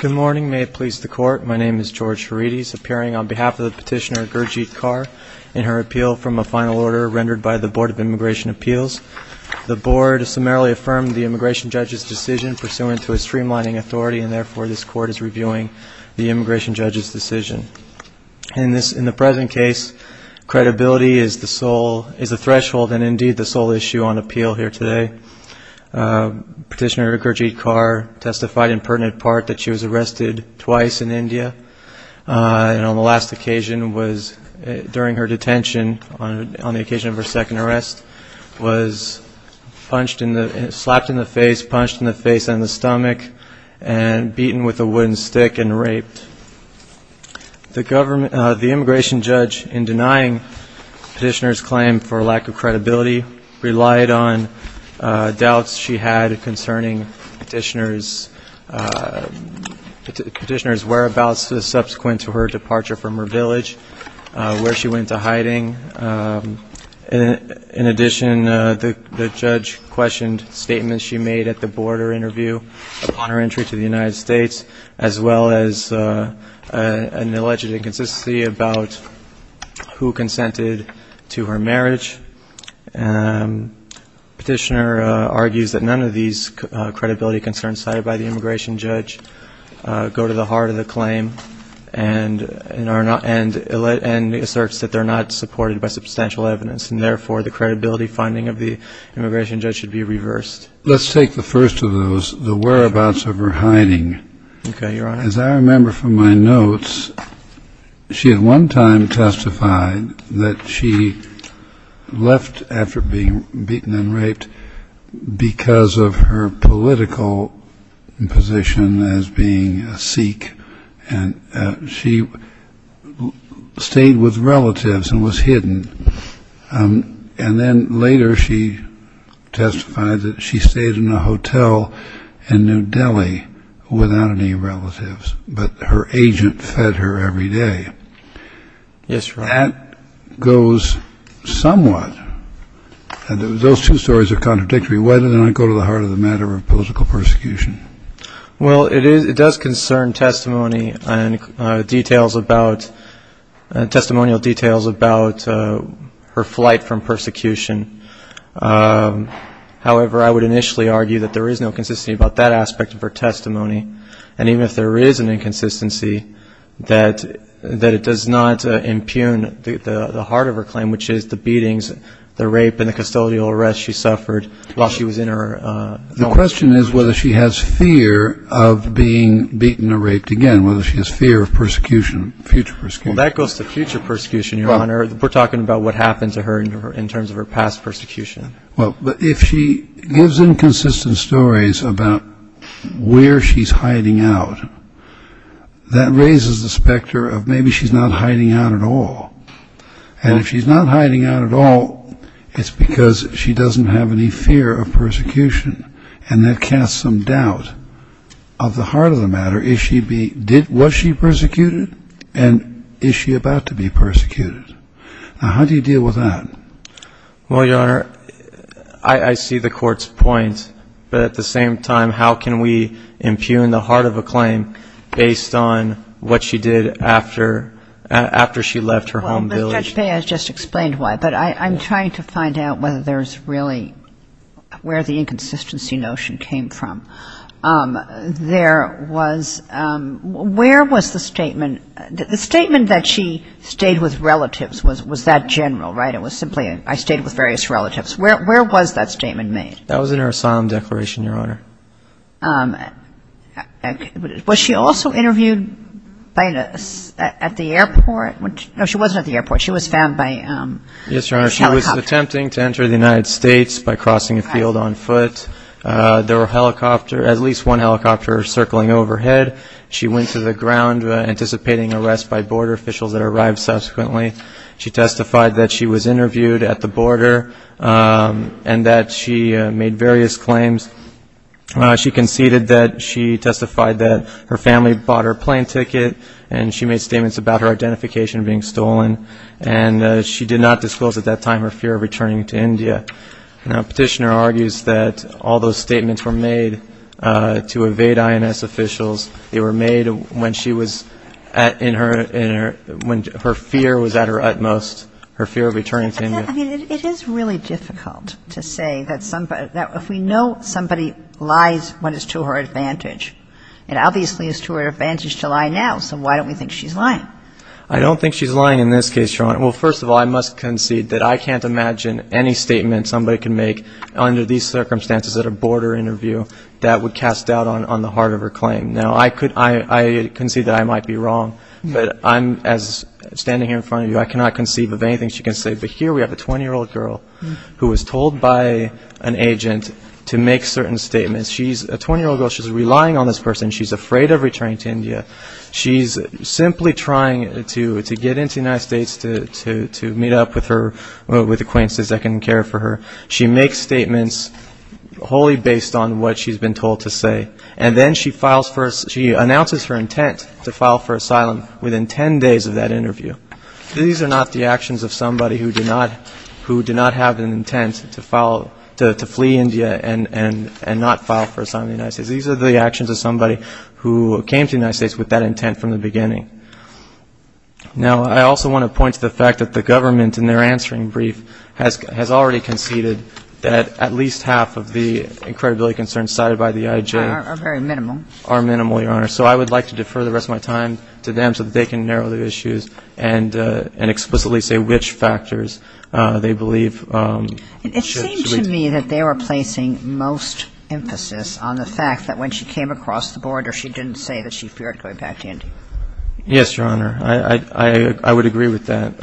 Good morning. May it please the Court, my name is George Herides, appearing on behalf of the petitioner Gurjeet Kaur in her appeal from a final order rendered by the Board of Immigration Appeals. The Board summarily affirmed the immigration judge's decision pursuant to a streamlining authority and therefore this Court is reviewing the immigration judge's decision. In the present case, credibility is the threshold and indeed the sole issue on appeal here today. Petitioner Gurjeet Kaur testified in pertinent part that she was arrested twice in India and on the last occasion was during her detention on the occasion of her and beaten with a wooden stick and raped. The immigration judge, in denying the petitioner's claim for lack of credibility, relied on doubts she had concerning the petitioner's whereabouts subsequent to her departure from her village, where she went to hiding. In addition, the United States as well as an alleged inconsistency about who consented to her marriage. Petitioner argues that none of these credibility concerns cited by the immigration judge go to the heart of the claim and asserts that they're not supported by substantial evidence and therefore the credibility finding of the immigration judge should be reversed. Let's take the first of those, the whereabouts of her hiding. As I remember from my notes, she at one time testified that she left after being beaten and raped because of her political position as being a Sikh and she stayed with relatives and was hidden. And then later she testified that she stayed in a hotel in New Delhi without any relatives, but her agent fed her every day. That goes somewhat, those two stories are contradictory. Why did it not go to the heart of the matter of political persecution? Well, it does concern testimony and details about, testimonial details about her flight from persecution. However, I would initially argue that there is no consistency about that aspect of her testimony. And even if there is an inconsistency, that it does not impugn the heart of her claim, which is the beatings, the rape and the custodial arrest she suffered while she was in her hotel. The question is whether she has fear of being beaten or raped again, whether she has fear of persecution, future persecution. That goes to future persecution, Your Honor. We're talking about what happened to her in terms of her past persecution. Well, but if she gives inconsistent stories about where she's hiding out, that raises the specter of maybe she's not hiding out at all. And if she's not hiding out at all, it's because she doesn't have any fear of persecution. And that casts some doubt of the heart of the matter. Is she being did, was she persecuted? And is she about to be persecuted? Now, how do you deal with that? Well, Your Honor, I see the Court's point. But at the same time, how can we impugn the heart of a claim based on what she did after she left her home village? Judge Baez just explained why. But I'm trying to find out whether there's really where the inconsistency notion came from. There was, where was the statement, the statement that she stayed with relatives was that general, right? It was simply I stayed with various relatives. Where was that statement made? That was in her asylum declaration, Your Honor. Was she also interviewed at the airport? No, she wasn't at the airport. She was found by a helicopter. Yes, Your Honor. She was attempting to enter the United States by crossing a field on foot. There were helicopter, at least one helicopter circling overhead. She went to the ground anticipating arrest by border officials that arrived subsequently. She testified that she was interviewed at the border and that she made various claims. She conceded that she testified that her family bought her plane ticket and she made statements about her identification being stolen. And she did not disclose at that time her fear of returning to India. Now, Petitioner argues that all those statements were made to evade INS officials. They were made when she was in her, when her fear was at her utmost, her fear of returning to India. I mean, it is really difficult to say that somebody, that if we know somebody lies when it's to her advantage, it obviously is to her advantage to lie now, so why don't we think she's lying? I don't think she's lying in this case, Your Honor. Well, first of all, I must concede that I can't imagine any statement somebody can make under these circumstances at a border interview that would cast doubt on the heart of her claim. Now, I could, I concede that I might be wrong, but I'm, as standing here in front of you, I cannot conceive of anything she can say. But here we have a 20-year-old girl who was told by an agent to make certain statements. She's a 20-year-old girl. She's relying on this person. She's afraid of returning to India. She's simply trying to get into the United States to meet up with acquaintances that can care for her. She makes statements wholly based on what she's been told to say. And then she files for, she announces her intent to file for asylum within 10 days of that interview. These are not the actions of somebody who do not, who do not have an intent to file, to flee India and not file for asylum in the United States. These are the actions of somebody who came to the United States with that intent from the beginning. Now, I also want to point to the fact that the government in their answering brief has already conceded that at least half of the credibility concerns cited by the IJ are very minimal, Your Honor. So I would like to defer the rest of my time to them so that they can narrow the issues and explicitly say which factors they believe should be. It seemed to me that they were placing most emphasis on the fact that when she came across the border, she didn't say that she feared going back to India. Yes, Your Honor. I would agree with that.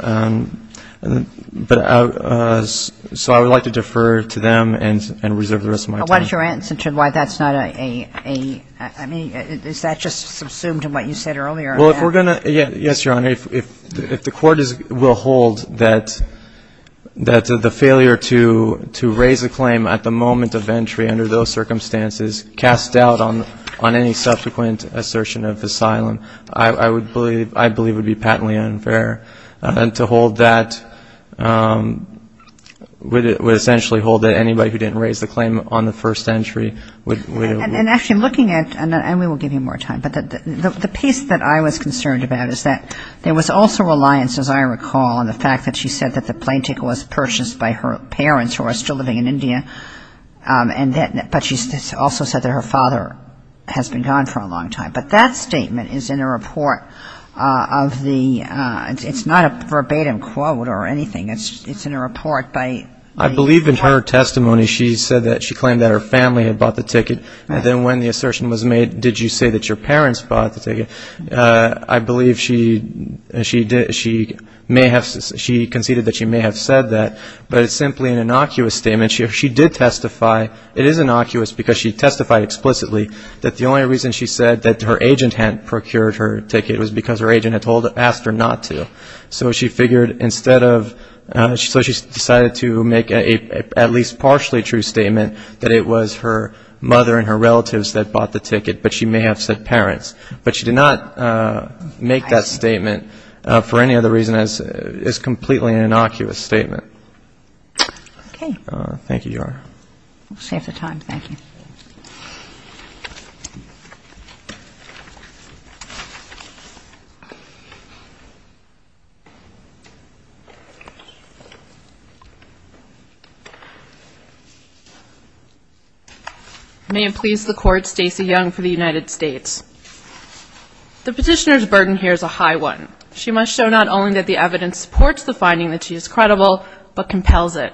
But so I would like to defer to them and reserve the rest of my time. But what is your answer to why that's not a, I mean, is that just subsumed in what you said earlier? Well, if we're going to, yes, Your Honor, if the court will hold that the failure to raise a claim at the moment of entry under those circumstances, cast doubt on any subsequent assertion of asylum, I believe would be patently unfair. And to hold that, would essentially hold that anybody who didn't raise the claim on the first entry would be held liable. And actually, I'm looking at, and we will give you more time, but the piece that I was concerned about is that there was also reliance, as I recall, on the fact that she said that the plane ticket was purchased by her parents who are still living in India, but she also said that her father has been gone for a long time. But that statement is in a report of the, it's not a verbatim quote or anything. It's in a report by the court. I believe in her testimony she said that, she claimed that her family had bought the ticket. And then when the assertion was made, did you say that your parents bought the ticket, I believe she may have, she conceded that she may have said that, but it's simply an innocuous statement. She did testify, it is innocuous because she testified explicitly that the only reason she said that her agent hadn't procured her ticket was because her agent had asked her not to. So she figured instead of, so she decided to make at least a partially true statement that it was her mother and her relatives that bought the ticket, but she may have said parents. But she did not make that statement for any other reason as it's completely an innocuous statement. Thank you, Your Honor. We'll save the time, thank you. May it please the court, Stacey Young for the United States. The petitioner's burden here is a high one. She must show not only that the evidence supports the finding that she is credible, but compels it.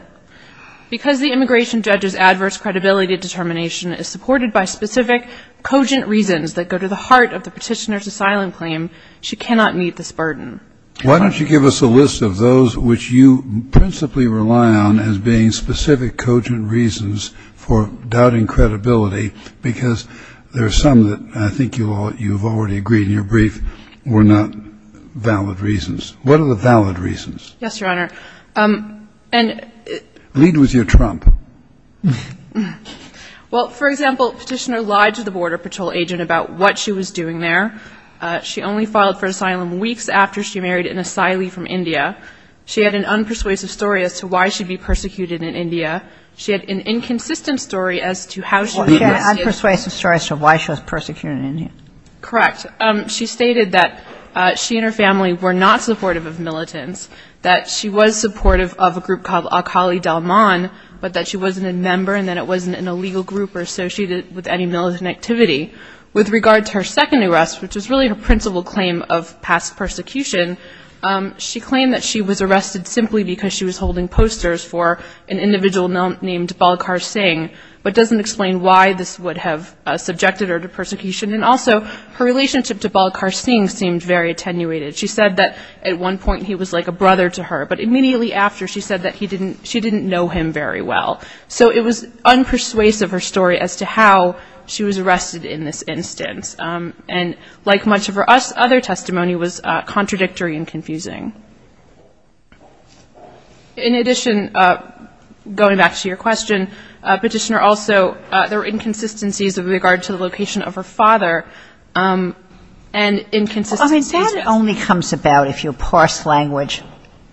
Because the immigration judge's adverse credibility determination is supported by specific cogent reasons that go to the heart of the petitioner's asylum claim, she cannot meet this burden. Why don't you give us a list of those which you principally rely on as being specific cogent reasons for doubting credibility, because there are some that I think you've already agreed in your brief were not valid reasons. What are the valid reasons? Yes, Your Honor. Lead with your trump. Well, for example, the petitioner lied to the Border Patrol agent about what she was doing there. She only filed for asylum weeks after she married an asylee from India. She had an unpersuasive story as to why she'd be persecuted in India. She had an inconsistent story as to how she was... Unpersuasive story as to why she was persecuted in India. Correct. She stated that she and her family were not supportive of militants, that she was supportive of a group called Akali Dalman, but that she wasn't a member, and that it wasn't an illegal group or associated with any militant activity. With regard to her second arrest, which was really her principal claim of past persecution, she claimed that she was arrested simply because she was holding posters for an individual named Balakar Singh, but doesn't explain why this would have subjected her to persecution. And also, her relationship to Balakar Singh seemed very attenuated. She said that at one point he was like a brother to her, but immediately after she said that she didn't know him very well. So it was unpersuasive, her story, as to how she was arrested in this instance. And like much of her other testimony was contradictory and confusing. In addition, going back to your question, Petitioner, also there were inconsistencies with regard to the location of her father, and inconsistencies... I mean, that only comes about if you parse language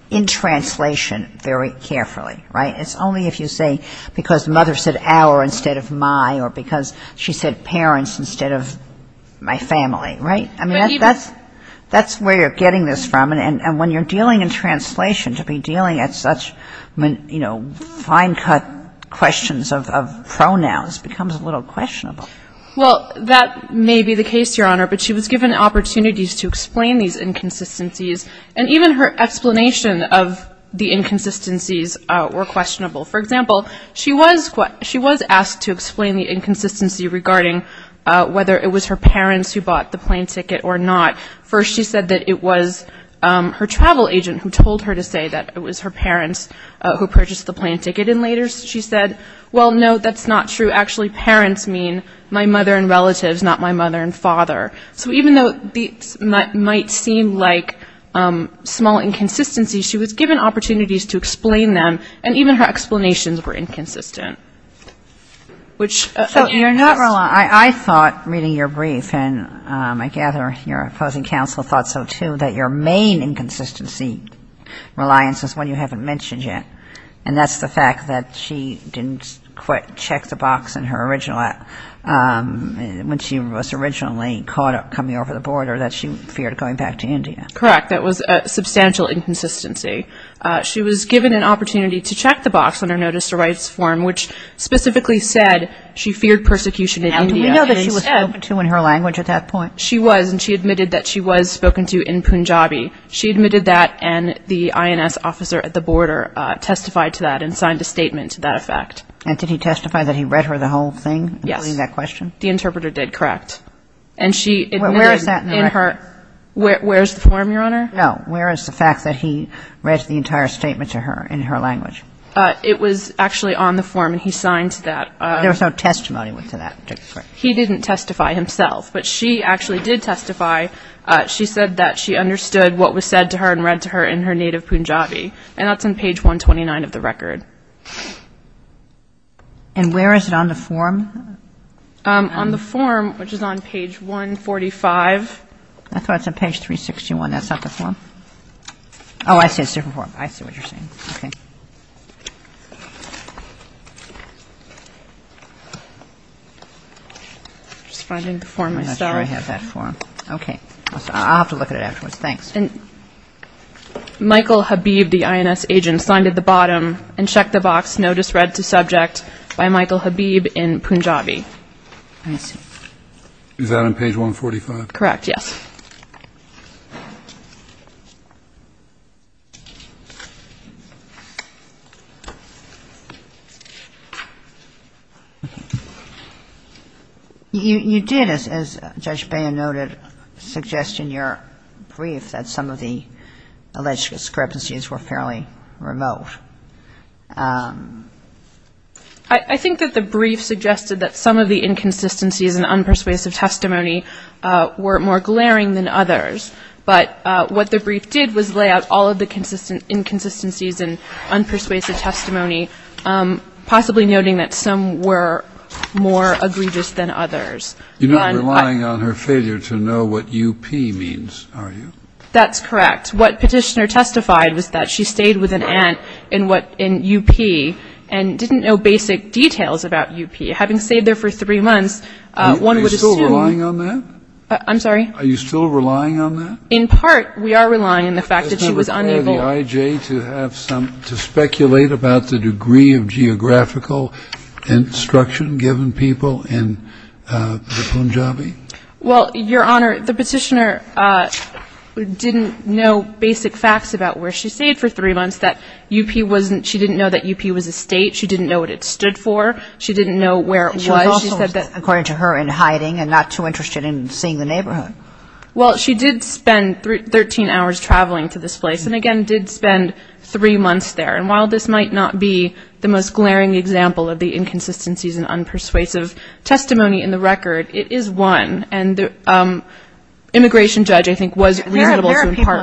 in translation very carefully, right? It's only if you say, because mother said our instead of my, or because she said parents instead of my family, right? I mean, that's where you're getting this from, and when you're dealing in translation, to be dealing at such fine-cut questions of pronouns becomes a little questionable. Well, that may be the case, Your Honor, but she was given opportunities to explain these inconsistencies, and even her explanation of the inconsistencies were questionable. For example, she was asked to explain the inconsistency regarding whether it was her parents who bought the plane ticket or not. First she said that it was her travel agent who told her to say that it was her parents who purchased the plane ticket, and later she said, well, no, that's not true. Actually, parents mean my mother and relatives, not my mother and father. So even though these might seem like small inconsistencies, she was given opportunities to explain them, and even her explanations were inconsistent. I thought, reading your brief, and I gather your opposing counsel thought so, too, that your main inconsistency reliance is one you haven't mentioned yet, and that's the fact that she didn't check the box in her original, when she was originally caught coming over the border, that she feared going back to India. Correct. That was a substantial inconsistency. She was given an opportunity to check the box on her Notice of Rights form, which specifically said she feared persecution in India. Now, do we know that she was spoken to in her language at that point? She was, and she admitted that she was spoken to in Punjabi. She admitted that, and the INS officer at the border testified to that and signed a statement to that effect. And did he testify that he read her the whole thing, including that question? Yes. The interpreter did, correct. Where is that in the record? Where is the form, Your Honor? No, where is the fact that he read the entire statement to her in her language? It was actually on the form, and he signed to that. There was no testimony to that, correct? He didn't testify himself, but she actually did testify. She said that she understood what was said to her and read to her in her native Punjabi. And that's on page 129 of the record. And where is it on the form? On the form, which is on page 145. I thought it was on page 361. That's not the form? Oh, I see. It's a different form. I see what you're saying. I'm not sure I have that form. I'll have to look at it afterwards. Thanks. Michael Habib, the INS agent, signed at the bottom, and checked the box, notice read to subject, by Michael Habib in Punjabi. Is that on page 145? Correct, yes. Thank you. You did, as Judge Beyer noted, suggest in your brief that some of the alleged discrepancies were fairly remote. I think that the brief suggested that some of the inconsistencies in unpersuasive testimony were more glaring than others. But what the brief did was lay out all of the inconsistencies in unpersuasive testimony, possibly noting that some were more egregious than others. You're not relying on her failure to know what UP means, are you? That's correct. What Petitioner testified was that she stayed with an aunt in UP and didn't know basic details about UP. Having stayed there for three months, one would assume... Are you still relying on that? I'm sorry? Are you still relying on that? In part, we are relying on the fact that she was unable... Has never been in the IJ to speculate about the degree of geographical instruction given people in the Punjabi? Well, Your Honor, the Petitioner didn't know basic facts about where she stayed for three months, that UP wasn't, she didn't know that UP was a state, she didn't know what it stood for, she didn't know where it was. She was also, according to her, in hiding and not too interested in seeing the neighborhood. Well, she did spend 13 hours traveling to this place and, again, did spend three months there. And while this might not be the most glaring example of the inconsistencies in unpersuasive testimony in the record, it is one. And the immigration judge, I think, was reasonable to impart...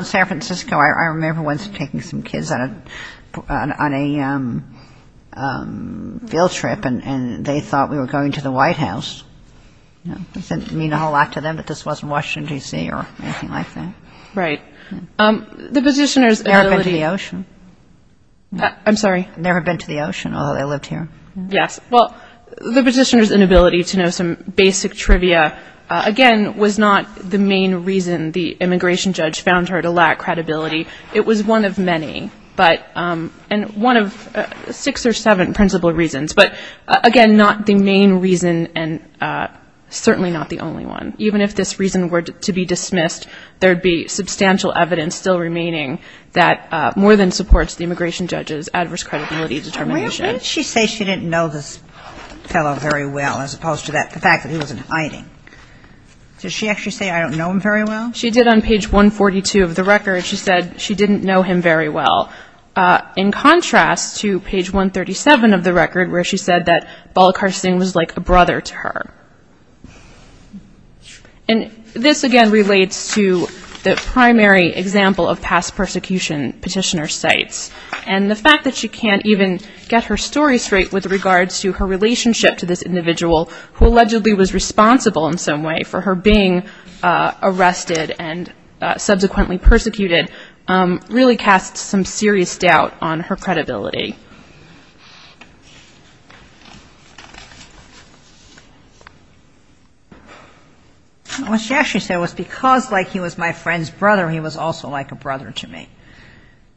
field trip and they thought we were going to the White House. It doesn't mean a whole lot to them that this wasn't Washington, D.C. or anything like that. Right. The Petitioner's inability... Never been to the ocean. I'm sorry? Never been to the ocean, although they lived here. Yes. Well, the Petitioner's inability to know some basic trivia, again, was not the main reason the immigration judge found her to lack credibility. It was one of many, but... and one of six or seven principal reasons, but, again, not the main reason and certainly not the only one. Even if this reason were to be dismissed, there would be substantial evidence still remaining that more than supports the immigration judge's adverse credibility determination. Why did she say she didn't know this fellow very well as opposed to the fact that he was in hiding? Did she actually say, I don't know him very well? She did on page 142 of the record. She said she didn't know him very well, in contrast to page 137 of the record where she said that Balakar Singh was like a brother to her. And this, again, relates to the primary example of past persecution Petitioner cites and the fact that she can't even get her story straight with regards to her relationship to this individual who allegedly was responsible in some way for her being arrested and subsequently persecuted really casts some serious doubt on her credibility. What she actually said was because, like, he was my friend's brother, he was also like a brother to me.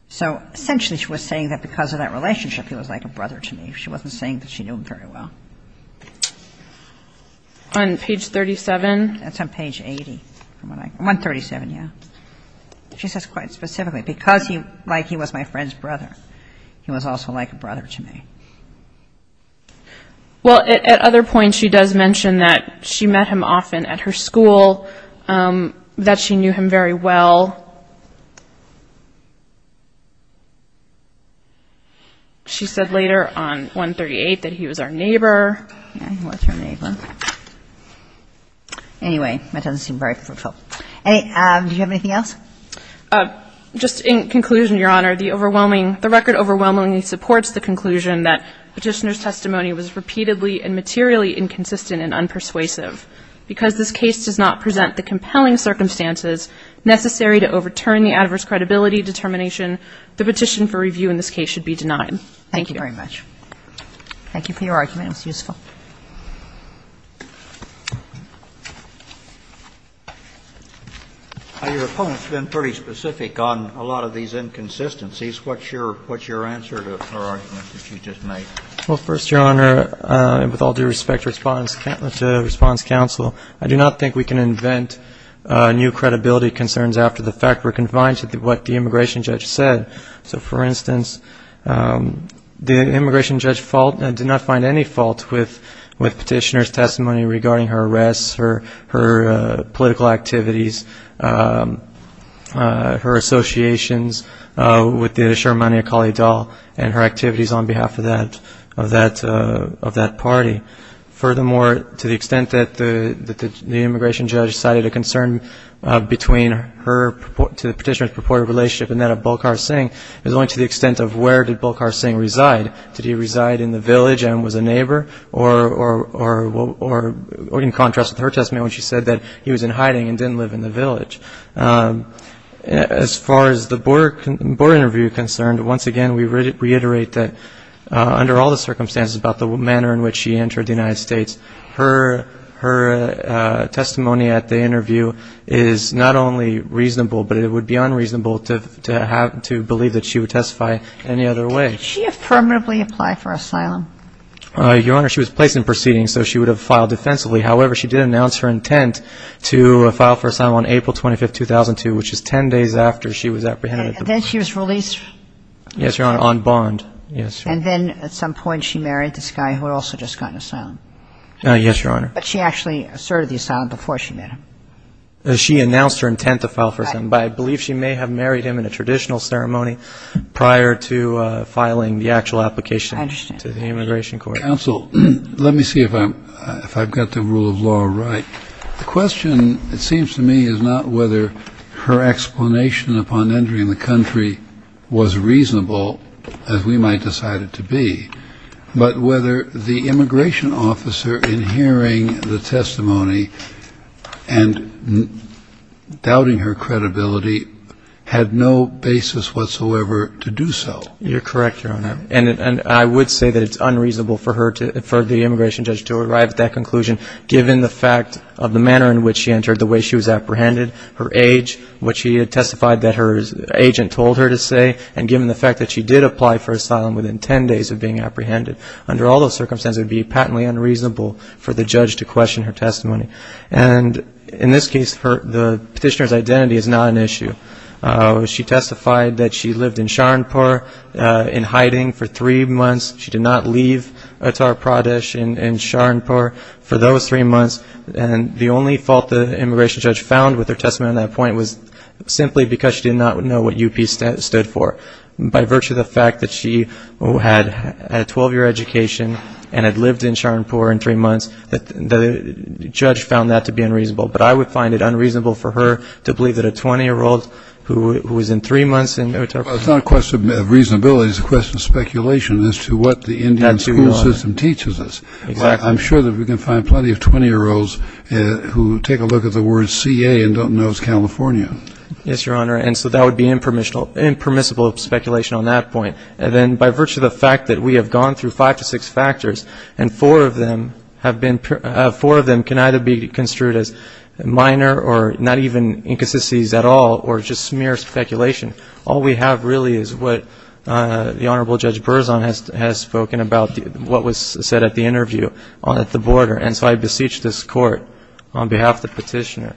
So essentially she was saying that because of that relationship he was like a brother to me. She wasn't saying that she knew him very well. On page 37? That's on page 80. 137, yeah. She says quite specifically, because, like, he was my friend's brother, he was also like a brother to me. Well, at other points she does mention that she met him often at her school, that she knew him very well. She said later on 138 that he was our neighbor. Yeah, he was her neighbor. Anyway, that doesn't seem very fruitful. Do you have anything else? Just in conclusion, Your Honor, the record overwhelmingly supports the conclusion that Petitioner's testimony was repeatedly and materially inconsistent and unpersuasive because this case does not present the compelling circumstances necessary to overturn the adverse credibility determination. The petition for review in this case should be denied. Thank you. Thank you very much. Thank you for your argument. It was useful. Your opponent's been pretty specific on a lot of these inconsistencies. What's your answer to her argument that she just made? Well, first, Your Honor, with all due respect to response counsel, I do not think we can invent new credibility concerns after the fact. We're confined to what the immigration judge said. So, for instance, the immigration judge did not find any fault with Petitioner's testimony regarding her arrests, her political activities, her associations with the Sharmani Akali Dal and her activities on behalf of that party. Furthermore, to the extent that the immigration judge cited a concern between her to Petitioner's purported relationship and that of Bolkar Singh is only to the extent of where did Bolkar Singh reside? Did he reside in the village and was a neighbor? Or in contrast with her testimony when she said that he was in hiding and didn't live in the village. As far as the border interview is concerned, once again, we reiterate that under all the circumstances about the manner in which she entered the United States, her testimony at the interview is not only reasonable, but it would be unreasonable to believe that she would testify any other way. Did she affirmatively apply for asylum? Your Honor, she was placed in proceedings, so she would have filed defensively. However, she did announce her intent to file for asylum on April 25, 2002, which is 10 days after she was apprehended. And then she was released? Yes, Your Honor, on bond. Yes, Your Honor. And then at some point she married this guy who had also just gotten asylum? Yes, Your Honor. But she actually asserted the asylum before she met him? She announced her intent to file for asylum, but I believe she may have married him in a traditional ceremony prior to filing the actual application. I understand. To the immigration court. Counsel, let me see if I've got the rule of law right. The question, it seems to me, is not whether her explanation upon entering the country was reasonable. As we might decide it to be. But whether the immigration officer, in hearing the testimony and doubting her credibility, had no basis whatsoever to do so. You're correct, Your Honor. And I would say that it's unreasonable for the immigration judge to arrive at that conclusion, given the fact of the manner in which she entered, the way she was apprehended, her age, what she had testified that her agent told her to say, and given the fact that she did apply for asylum within 10 days of being apprehended. Under all those circumstances, it would be patently unreasonable for the judge to question her testimony. And in this case, the petitioner's identity is not an issue. She testified that she lived in Sharanpur in hiding for three months. She did not leave Uttar Pradesh in Sharanpur for those three months. And the only fault the immigration judge found with her testimony on that point was simply because she did not know what UP stood for. By virtue of the fact that she had a 12-year education and had lived in Sharanpur in three months, the judge found that to be unreasonable. But I would find it unreasonable for her to believe that a 20-year-old who was in three months in Uttar Pradesh. Well, it's not a question of reasonability. It's a question of speculation as to what the Indian school system teaches us. I'm sure that we can find plenty of 20-year-olds who take a look at the word CA and don't know it's California. Yes, Your Honor. And so that would be impermissible speculation on that point. And then by virtue of the fact that we have gone through five to six factors, and four of them can either be construed as minor or not even inconsistencies at all or just mere speculation, all we have really is what the Honorable Judge Berzon has spoken about what was said at the interview at the border. And so I beseech this Court on behalf of the petitioner,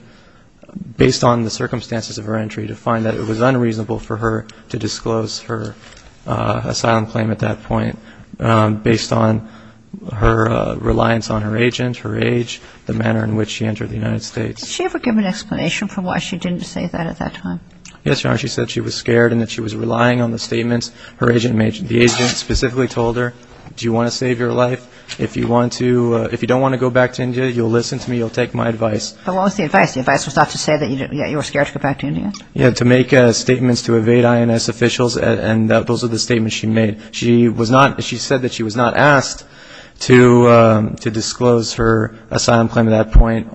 based on the circumstances of her entry, to find that it was unreasonable for her to disclose her asylum claim at that point based on her reliance on her agent, her age, the manner in which she entered the United States. Did she ever give an explanation for why she didn't say that at that time? Yes, Your Honor. She said she was scared and that she was relying on the statements her agent made. The agent specifically told her, do you want to save your life? If you don't want to go back to India, you'll listen to me. You'll take my advice. But what was the advice? The advice was not to say that you were scared to go back to India? Yes, to make statements to evade INS officials, and those are the statements she made. She said that she was not asked to disclose her asylum claim at that point,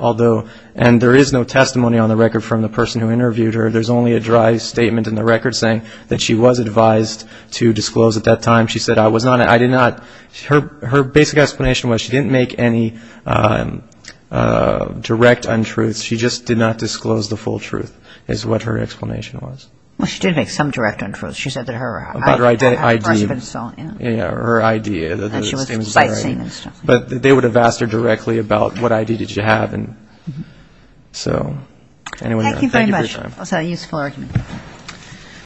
and there is no testimony on the record from the person who interviewed her. There's only a dry statement in the record saying that she was advised to disclose at that time. She said I was not, I did not. Her basic explanation was she didn't make any direct untruths. She just did not disclose the full truth is what her explanation was. Well, she did make some direct untruths. She said that her ID. Yeah, her ID. That she was sightseeing and stuff. But they would have asked her directly about what ID did she have. So anyway, thank you for your time. Thank you very much. That was a useful argument. Thank you.